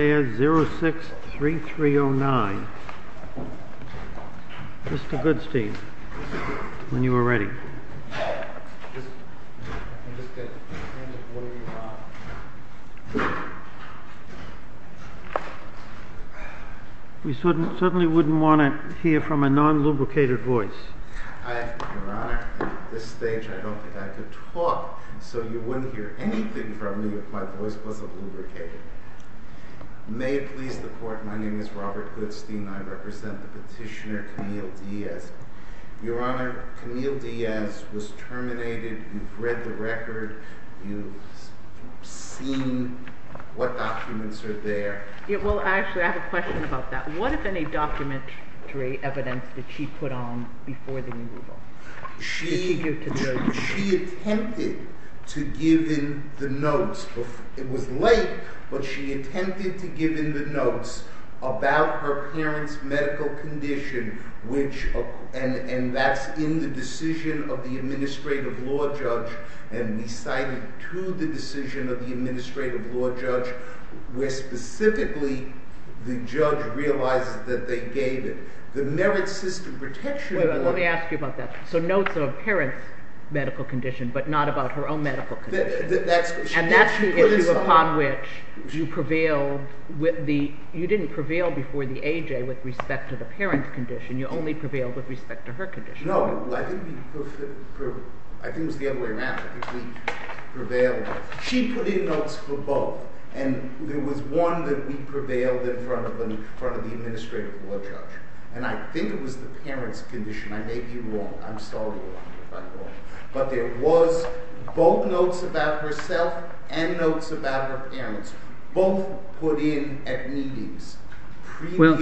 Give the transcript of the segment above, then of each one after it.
06-3309. Mr. Goodstein, when you are ready. We certainly wouldn't want to hear from a non-lubricated voice. Your Honor, at this stage I don't think I could talk, so you wouldn't hear anything from me if my voice wasn't lubricated. May it please the Court, my name is Robert Goodstein and I represent the petitioner Camille Diaz. Your Honor, Camille Diaz was terminated. You've read the record. You've seen what documents are there. Well, actually, I have a question about that. What, if any, documentary evidence did she put on before the removal? She attempted to give in the notes. It was late, but she attempted to give in the notes about her parents' medical condition, and that's in the decision of the Administrative Law Judge, and we cited to the decision of the Administrative Law Judge, where specifically the judge realized that they gave it. Let me ask you about that. So notes of a parent's medical condition, but not about her own medical condition. And that's the issue upon which you prevailed with the, you didn't prevail before the AJ with respect to the parent's condition, you only prevailed with respect to her condition. No, I think it was the other way around. She put in notes for both, and there was one that we prevailed in front of the Administrative Law Judge. And I think it was the parent's condition. I may be wrong. I'm sorry if I'm wrong. But there was both notes about herself and notes about her parents, both put in at meetings. Well,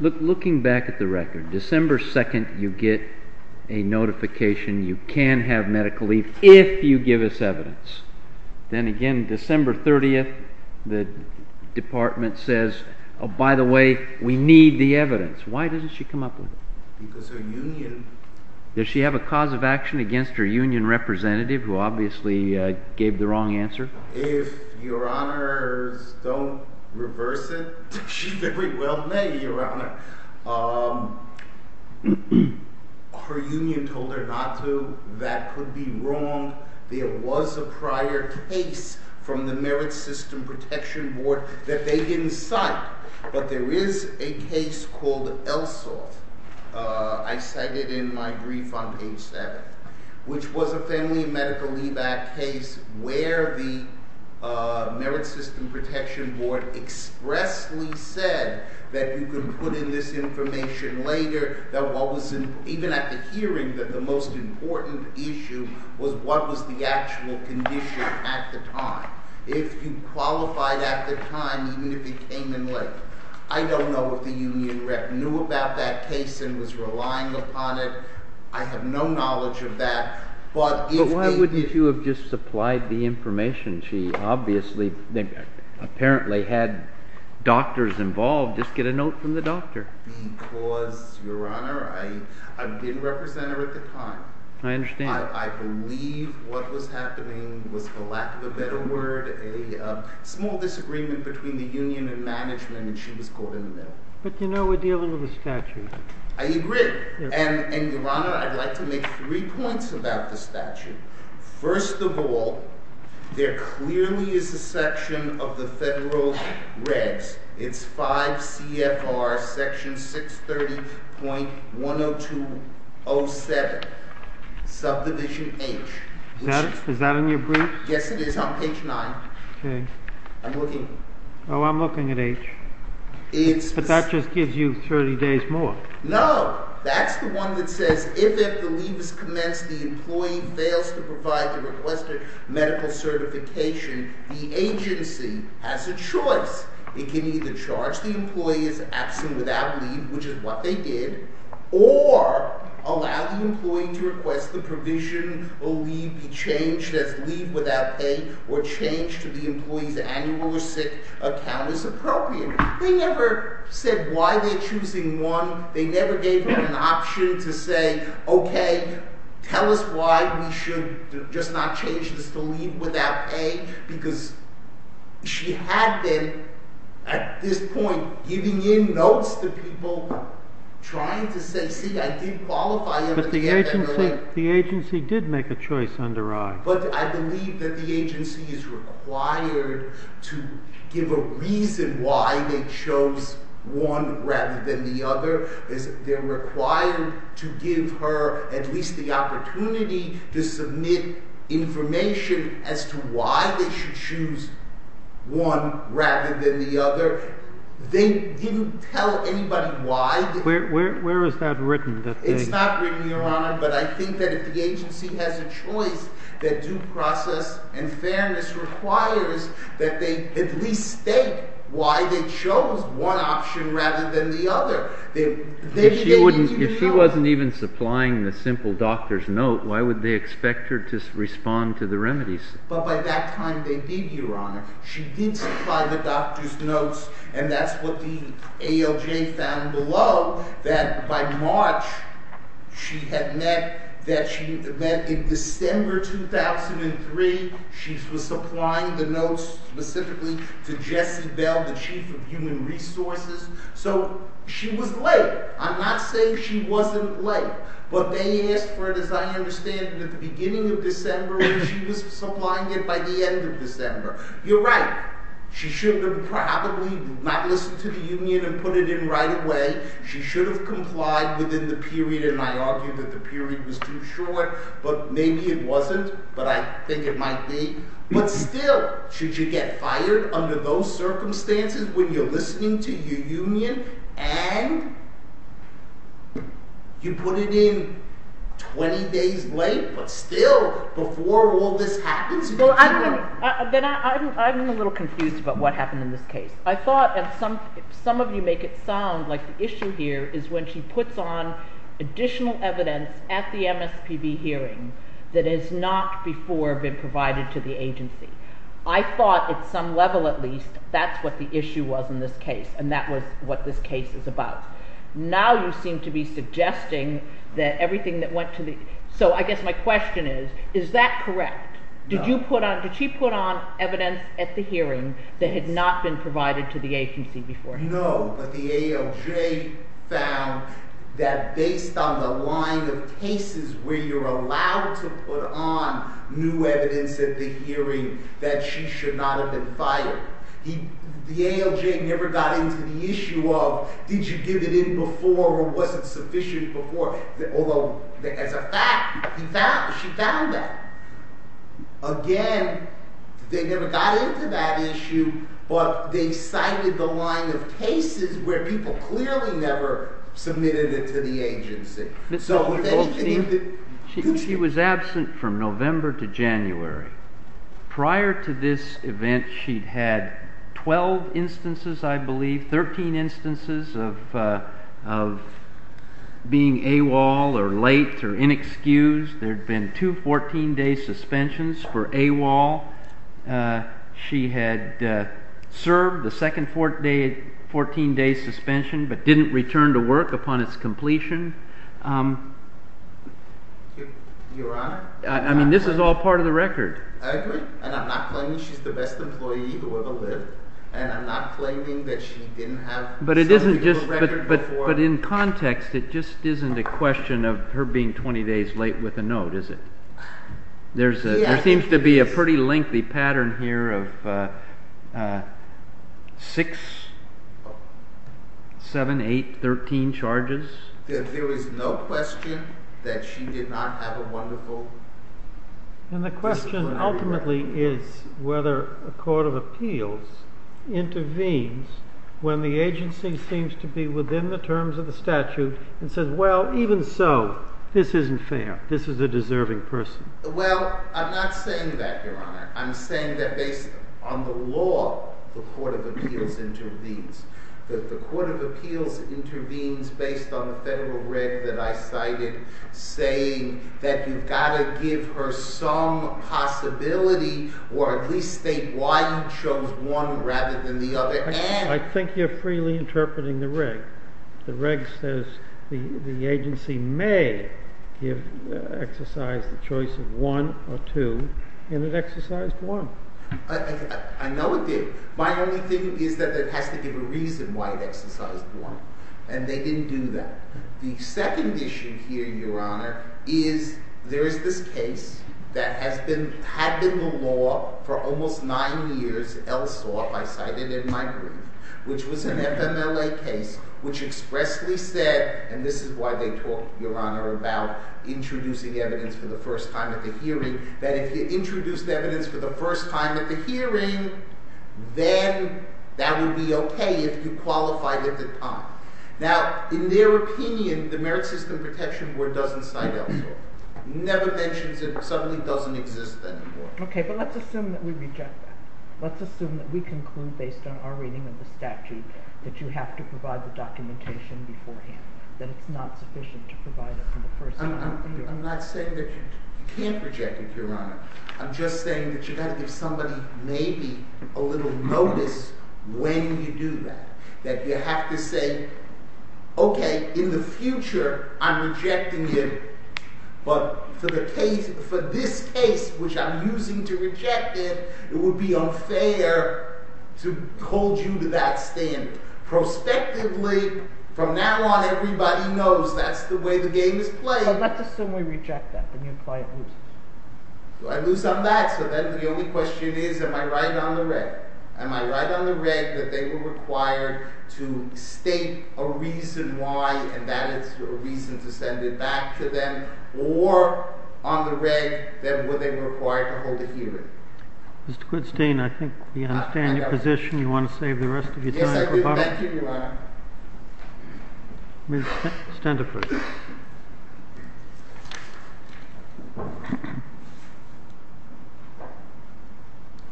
looking back at the record, December 2nd you get a notification you can have medical leave if you give us evidence. Then again, December 30th, the department says, oh, by the way, we need the evidence. Why doesn't she come up with it? Because her union… Does she have a cause of action against her union representative, who obviously gave the wrong answer? If your honors don't reverse it, she very well may, your honor. Her union told her not to. That could be wrong. There was a prior case from the Merit System Protection Board that they didn't cite, but there is a case called ELSO. I cite it in my brief on page 7, which was a family medical leave act case where the Merit System Protection Board expressly said that you can put in this information later, that what was, even at the hearing, that the most important issue was what was the actual condition at the time, if you qualified at the time, even if it came in later. I don't know if the union rep knew about that case and was relying upon it. I have no knowledge of that. But why wouldn't you have just supplied the information? She obviously apparently had doctors involved. Just get a note from the doctor. Because, your honor, I didn't represent her at the time. I understand. I believe what was happening was, for lack of a better word, a small disagreement between the union and management, and she was caught in the middle. But, you know, we're dealing with a statute. I agree. And, your honor, I'd like to make three points about the statute. First of all, there clearly is a section of the federal regs. It's 5 CFR section 630.10207, subdivision H. Is that in your brief? Yes, it is, on page 9. Okay. I'm looking. Oh, I'm looking at H. But that just gives you 30 days more. No. That's the one that says if, if the leave is commenced, the employee fails to provide the requested medical certification, the agency has a choice. It can either charge the employee as absent without leave, which is what they did, or allow the employee to request the provision or leave be changed as leave without pay or change to the employee's annual or sick account as appropriate. They never said why they're choosing one. They never gave her an option to say, okay, tell us why we should just not change this to leave without pay, because she had been, at this point, giving in notes to people trying to say, see, I did qualify. But the agency did make a choice under I. But I believe that the agency is required to give a reason why they chose one rather than the other. They're required to give her at least the opportunity to submit information as to why they should choose one rather than the other. They didn't tell anybody why. Where is that written? It's not written, Your Honor, but I think that if the agency has a choice that due process and fairness requires that they at least state why they chose one option rather than the other. If she wasn't even supplying the simple doctor's note, why would they expect her to respond to the remedies? But by that time, they did, Your Honor. She did supply the doctor's notes, and that's what the ALJ found below, that by March, she had met that she met in December 2003. She was supplying the notes specifically to Jesse Bell, the chief of human resources. So she was late. I'm not saying she wasn't late, but they asked for it, as I understand it, at the beginning of December, and she was supplying it by the end of December. You're right. She should have probably not listened to the union and put it in right away. She should have complied within the period, and I argue that the period was too short. But maybe it wasn't, but I think it might be. But still, should you get fired under those circumstances when you're listening to your union and you put it in 20 days late, but still before all this happens? Well, I'm a little confused about what happened in this case. I thought, and some of you make it sound like the issue here is when she puts on additional evidence at the MSPB hearing that has not before been provided to the agency. I thought at some level at least that's what the issue was in this case, and that was what this case is about. Now you seem to be suggesting that everything that went to the – so I guess my question is, is that correct? No. Did you put on – did she put on evidence at the hearing that had not been provided to the agency before? No, but the ALJ found that based on the line of cases where you're allowed to put on new evidence at the hearing that she should not have been fired. The ALJ never got into the issue of did you give it in before or was it sufficient before, although as a fact she found that. Again, they never got into that issue, but they cited the line of cases where people clearly never submitted it to the agency. She was absent from November to January. Prior to this event, she'd had 12 instances, I believe, 13 instances of being AWOL or late or inexcused. There had been two 14-day suspensions for AWOL. She had served the second 14-day suspension but didn't return to work upon its completion. Your Honor? I mean, this is all part of the record. I agree, and I'm not claiming she's the best employee who ever lived, and I'm not claiming that she didn't have something of a record before. But in context, it just isn't a question of her being 20 days late with a note, is it? There seems to be a pretty lengthy pattern here of 6, 7, 8, 13 charges. There is no question that she did not have a wonderful career. And the question ultimately is whether a court of appeals intervenes when the agency seems to be within the terms of the statute and says, well, even so, this isn't fair. This is a deserving person. Well, I'm not saying that, Your Honor. I'm saying that based on the law, the court of appeals intervenes. The court of appeals intervenes based on the federal reg that I cited saying that you've got to give her some possibility or at least state why you chose one rather than the other. I think you're freely interpreting the reg. The reg says the agency may exercise the choice of one or two, and it exercised one. I know it did. My only thing is that it has to give a reason why it exercised one. And they didn't do that. The second issue here, Your Honor, is there is this case that had been the law for almost nine years, Elsoff, I cited in my brief, which was an FMLA case, which expressly said, and this is why they talk, Your Honor, about introducing evidence for the first time at the hearing, that if you introduced evidence for the first time at the hearing, then that would be okay if you qualified at the time. Now, in their opinion, the Merit System Protection Board doesn't cite Elsoff. It never mentions it. It suddenly doesn't exist anymore. Okay, but let's assume that we reject that. Let's assume that we conclude based on our reading of the statute that you have to provide the documentation beforehand, that it's not sufficient to provide it from the first time at the hearing. I'm not saying that you can't reject it, Your Honor. I'm just saying that you've got to give somebody maybe a little notice when you do that, that you have to say, okay, in the future, I'm rejecting it, but for this case, which I'm using to reject it, it would be unfair to hold you to that standard. Prospectively, from now on, everybody knows that's the way the game is played. So let's assume we reject that, and you apply it loosely. Do I lose on that? So then the only question is, am I right on the reg? Am I right on the reg that they were required to state a reason why and that is a reason to send it back to them, or on the reg that they were required to hold a hearing? Mr. Quintstein, I think we understand your position. You want to save the rest of your time for public? Yes, I do. Thank you, Your Honor. Stand up, please.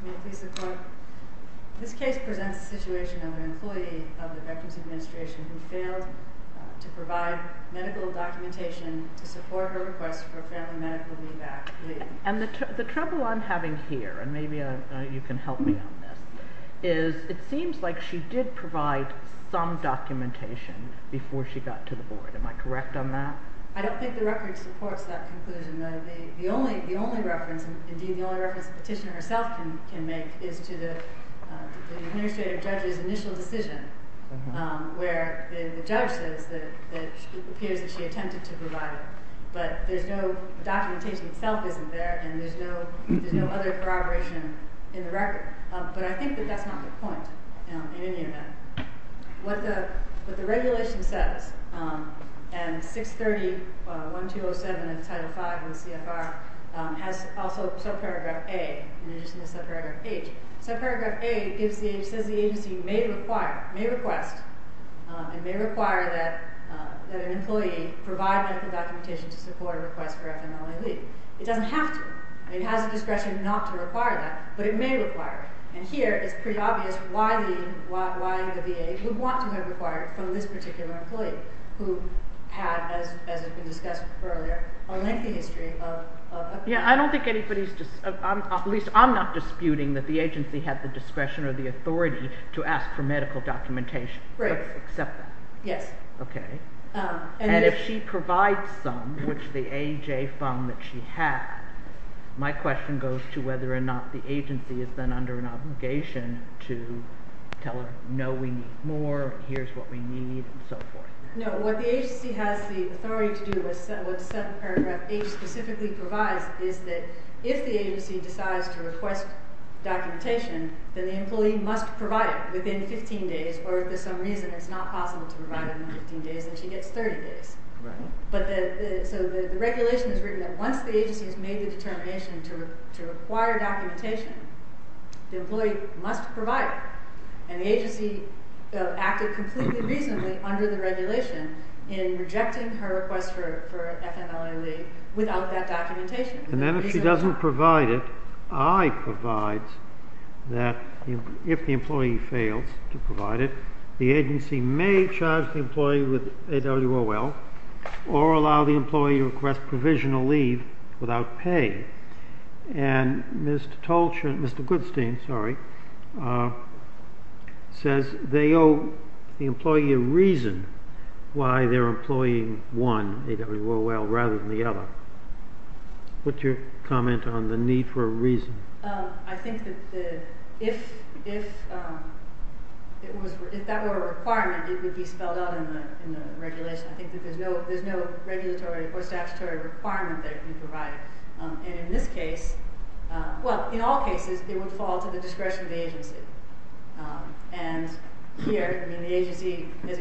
May it please the Court? This case presents the situation of an employee of the Veterans Administration who failed to provide medical documentation to support her request for a family medical leave act. And the trouble I'm having here, and maybe you can help me on this, is it seems like she did provide some documentation before she got to the board. Am I correct on that? I don't think the record supports that conclusion. The only reference the petitioner herself can make is to the administrative judge's initial decision, where the judge says that it appears that she attempted to provide it. But the documentation itself isn't there, and there's no other corroboration in the record. But I think that that's not the point in any of that. What the regulation says, and 630.1207 of Title V of the CFR has also subparagraph A in addition to subparagraph H. Subparagraph A says the agency may request and may require that an employee provide medical documentation to support a request for a family leave. It doesn't have to. It has the discretion not to require that, but it may require it. And here it's pretty obvious why the VA would want to have it required from this particular employee, who had, as has been discussed earlier, a lengthy history of abuse. Yeah, I don't think anybody's – at least I'm not disputing that the agency had the discretion or the authority to ask for medical documentation. Right. Except that. Yes. Okay. And if she provides some, which the AJ found that she had, my question goes to whether or not the agency is then under an obligation to tell her, no, we need more, here's what we need, and so forth. No, what the agency has the authority to do with subparagraph H specifically provides is that if the agency decides to request documentation, then the employee must provide it within 15 days. Or if for some reason it's not possible to provide it in 15 days, then she gets 30 days. Right. So the regulation is written that once the agency has made the determination to require documentation, the employee must provide it. And the agency acted completely reasonably under the regulation in rejecting her request for FMLA-League without that documentation. And then if she doesn't provide it, I provides that if the employee fails to provide it, the agency may charge the employee with AWOL or allow the employee to request provisional leave without pay. And Mr. Goodstein says they owe the employee a reason why they're employing one, AWOL, rather than the other. What's your comment on the need for a reason? I think that if that were a requirement, it would be spelled out in the regulation. I think that there's no regulatory or statutory requirement that it be provided. And in this case, well, in all cases, it would fall to the discretion of the agency. And here, I mean, the agency has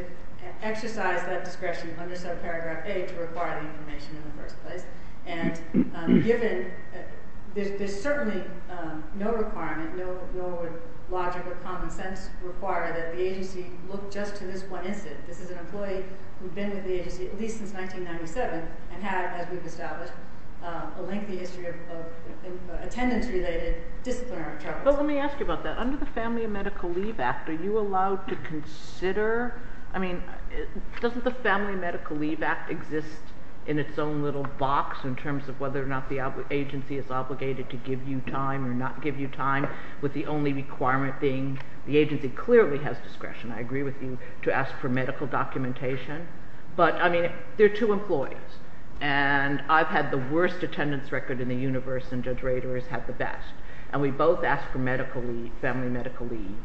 exercised that discretion under subparagraph A to require the information in the first place. And given there's certainly no requirement, no logic or common sense required that the agency look just to this one incident. This is an employee who had been with the agency at least since 1997 and had, as we've established, a lengthy history of attendance-related disciplinary troubles. But let me ask you about that. Under the Family and Medical Leave Act, are you allowed to consider – I mean, doesn't the Family and Medical Leave Act exist in its own little box in terms of whether or not the agency is obligated to give you time or not give you time, with the only requirement being the agency clearly has discretion. I agree with you to ask for medical documentation. But, I mean, they're two employees, and I've had the worst attendance record in the universe, and Judge Rader has had the best. And we both ask for medical leave, family medical leave,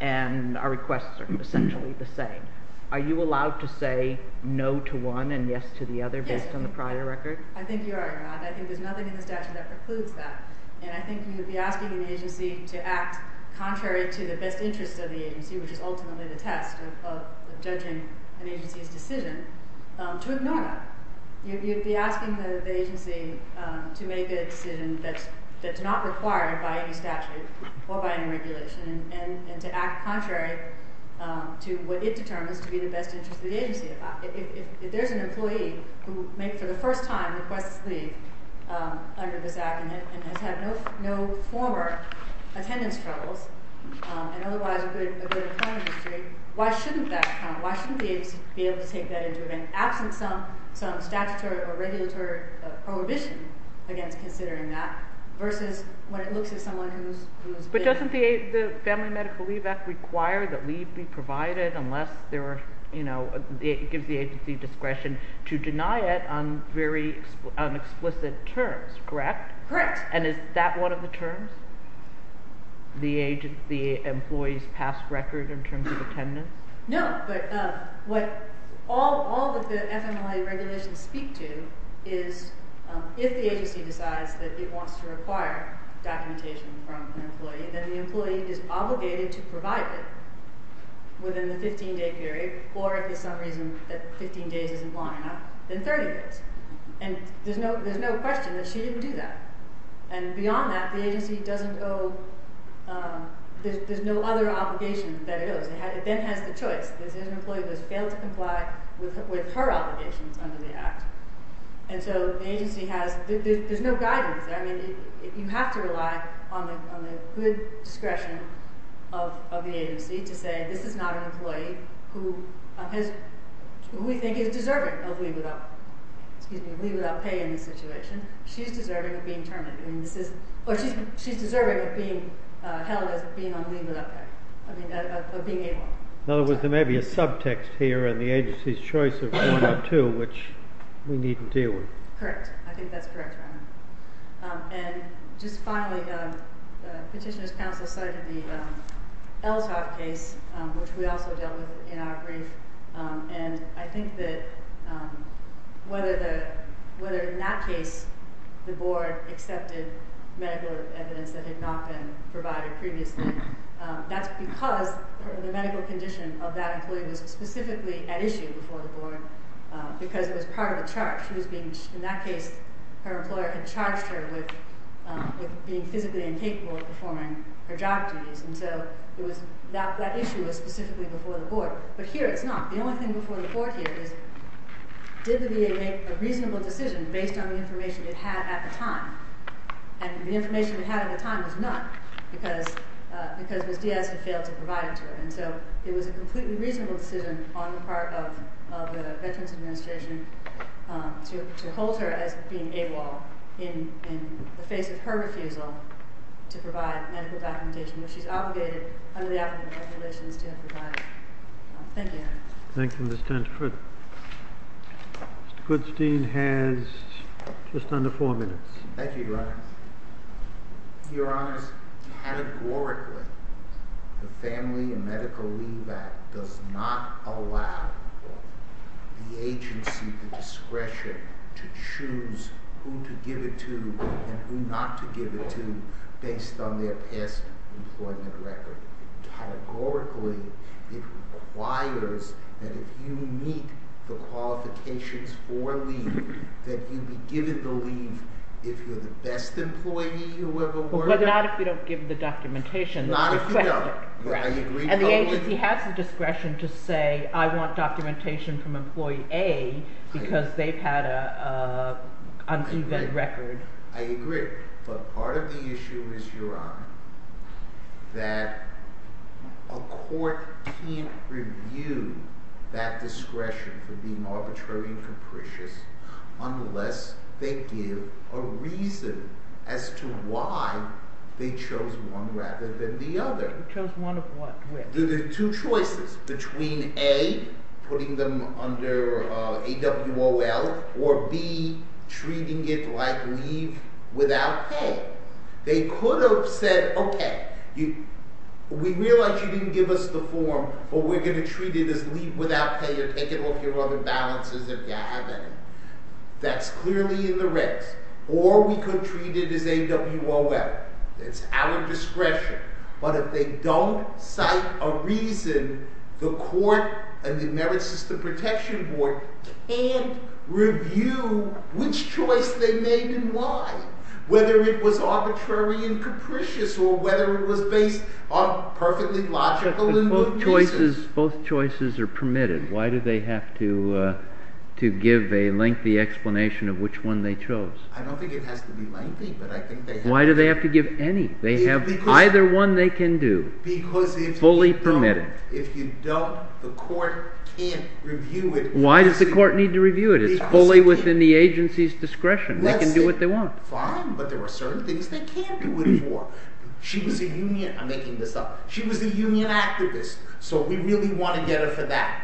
and our requests are essentially the same. Are you allowed to say no to one and yes to the other based on the prior record? Yes, I think you are, Your Honor. I think there's nothing in the statute that precludes that. And I think you'd be asking the agency to act contrary to the best interest of the agency, which is ultimately the test of judging an agency's decision, to ignore that. You'd be asking the agency to make a decision that's not required by any statute or by any regulation and to act contrary to what it determines to be the best interest of the agency. If there's an employee who, for the first time, requests leave under this act and has had no former attendance troubles and otherwise a good employment history, why shouldn't that come? Why shouldn't the agency be able to take that into account, absent some statutory or regulatory prohibition against considering that, versus when it looks at someone who's... But doesn't the Family Medical Leave Act require that leave be provided unless it gives the agency discretion to deny it on very explicit terms, correct? Correct. And is that one of the terms? The employee's past record in terms of attendance? No, but what all of the FMLA regulations speak to is if the agency decides that it wants to require documentation from an employee, then the employee is obligated to provide it within the 15-day period, or if for some reason that 15 days isn't long enough, then 30 days. And there's no question that she didn't do that. And beyond that, the agency doesn't owe... There's no other obligation that it owes. It then has the choice. There's an employee that's failed to comply with her obligations under the act. And so the agency has... There's no guidance. I mean, you have to rely on the good discretion of the agency to say this is not an employee who we think is deserving of leave without pay in this situation. She's deserving of being terminated. I mean, this is... Or she's deserving of being held as being on leave without pay. I mean, of being able. In other words, there may be a subtext here in the agency's choice of one or two which we need to deal with. Correct. I think that's correct, Your Honor. And just finally, Petitioner's Counsel cited the Ellshock case, which we also dealt with in our brief. And I think that whether in that case the board accepted medical evidence that had not been provided previously, that's because the medical condition of that employee was specifically at issue before the board because it was part of a charge. In that case, her employer had charged her with being physically incapable of performing her job duties. And so that issue was specifically before the board. But here it's not. The only thing before the board here is did the VA make a reasonable decision based on the information it had at the time? And the information it had at the time was not because Ms. Diaz had failed to provide it to her. And so it was a completely reasonable decision on the part of the Veterans Administration to hold her as being AWOL in the face of her refusal to provide medical documentation, which she's obligated under the applicable regulations to have provided. Thank you, Your Honor. Thank you, Ms. Tentford. Goodstein has just under four minutes. Thank you, Your Honor. Your Honor, categorically, the Family and Medical Leave Act does not allow the agency the discretion to choose who to give it to and who not to give it to based on their past employment record. Categorically, it requires that if you meet the qualifications for leave, that you be given the leave if you're the best employee you ever worked with. But not if you don't give the documentation. Not if you don't. And the agency has the discretion to say, I want documentation from employee A because they've had an event record. I agree. But part of the issue is, Your Honor, that a court can't review that discretion for being arbitrary and capricious unless they give a reason as to why they chose one rather than the other. Chose one of what? The two choices between A, putting them under AWOL, or B, treating it like leave without pay. They could have said, okay, we realize you didn't give us the form, but we're going to treat it as leave without pay. You're taking off your other balances if you have any. That's clearly in the regs. Or we could treat it as AWOL. It's our discretion. But if they don't cite a reason, the court and the Merit System Protection Board can't review which choice they made and why, whether it was arbitrary and capricious or whether it was based on perfectly logical and good reasons. Both choices are permitted. Why do they have to give a lengthy explanation of which one they chose? I don't think it has to be lengthy, but I think they have to. Why do they have to give any? They have either one they can do, fully permitted. If you don't, the court can't review it. Why does the court need to review it? It's fully within the agency's discretion. They can do what they want. Fine, but there are certain things they can't do anymore. She was a union activist, so we really want to get her for that.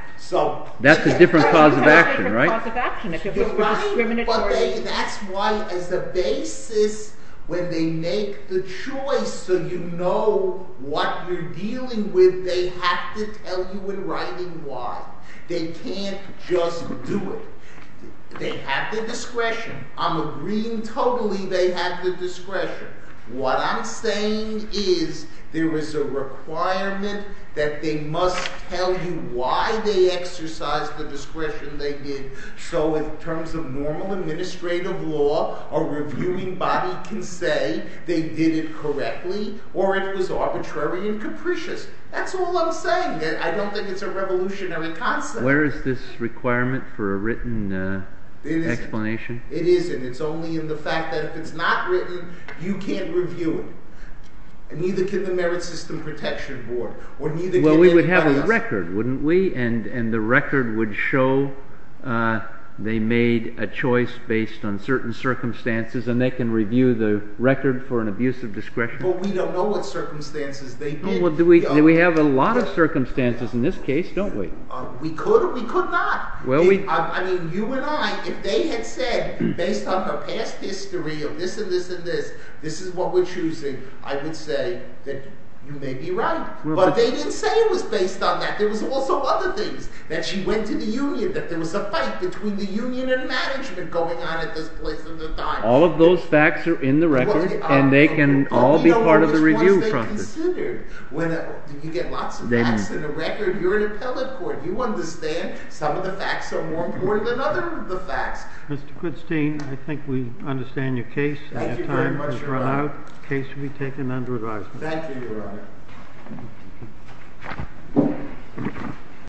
That's a different cause of action, right? That's why, as a basis, when they make the choice so you know what you're dealing with, they have to tell you in writing why. They can't just do it. They have the discretion. I'm agreeing totally they have the discretion. What I'm saying is there is a requirement that they must tell you why they exercised the discretion they did. So in terms of normal administrative law, a reviewing body can say they did it correctly or it was arbitrary and capricious. That's all I'm saying. I don't think it's a revolutionary concept. Where is this requirement for a written explanation? It isn't. It's only in the fact that if it's not written, you can't review it. And neither can the Merit System Protection Board. Well, we would have a record, wouldn't we? And the record would show they made a choice based on certain circumstances, and they can review the record for an abuse of discretion. But we don't know what circumstances they did. We have a lot of circumstances in this case, don't we? We could or we could not. I mean, you and I, if they had said based on her past history of this and this and this, this is what we're choosing, I would say that you may be right. But they didn't say it was based on that. There was also other things, that she went to the union, that there was a fight between the union and management going on at this place at the time. All of those facts are in the record, and they can all be part of the review process. When you get lots of facts in the record, you're an appellate court. You understand some of the facts are more important than other of the facts. Mr. Quidstein, I think we understand your case. Thank you very much, Your Honor. Case will be taken under advisement. Thank you, Your Honor.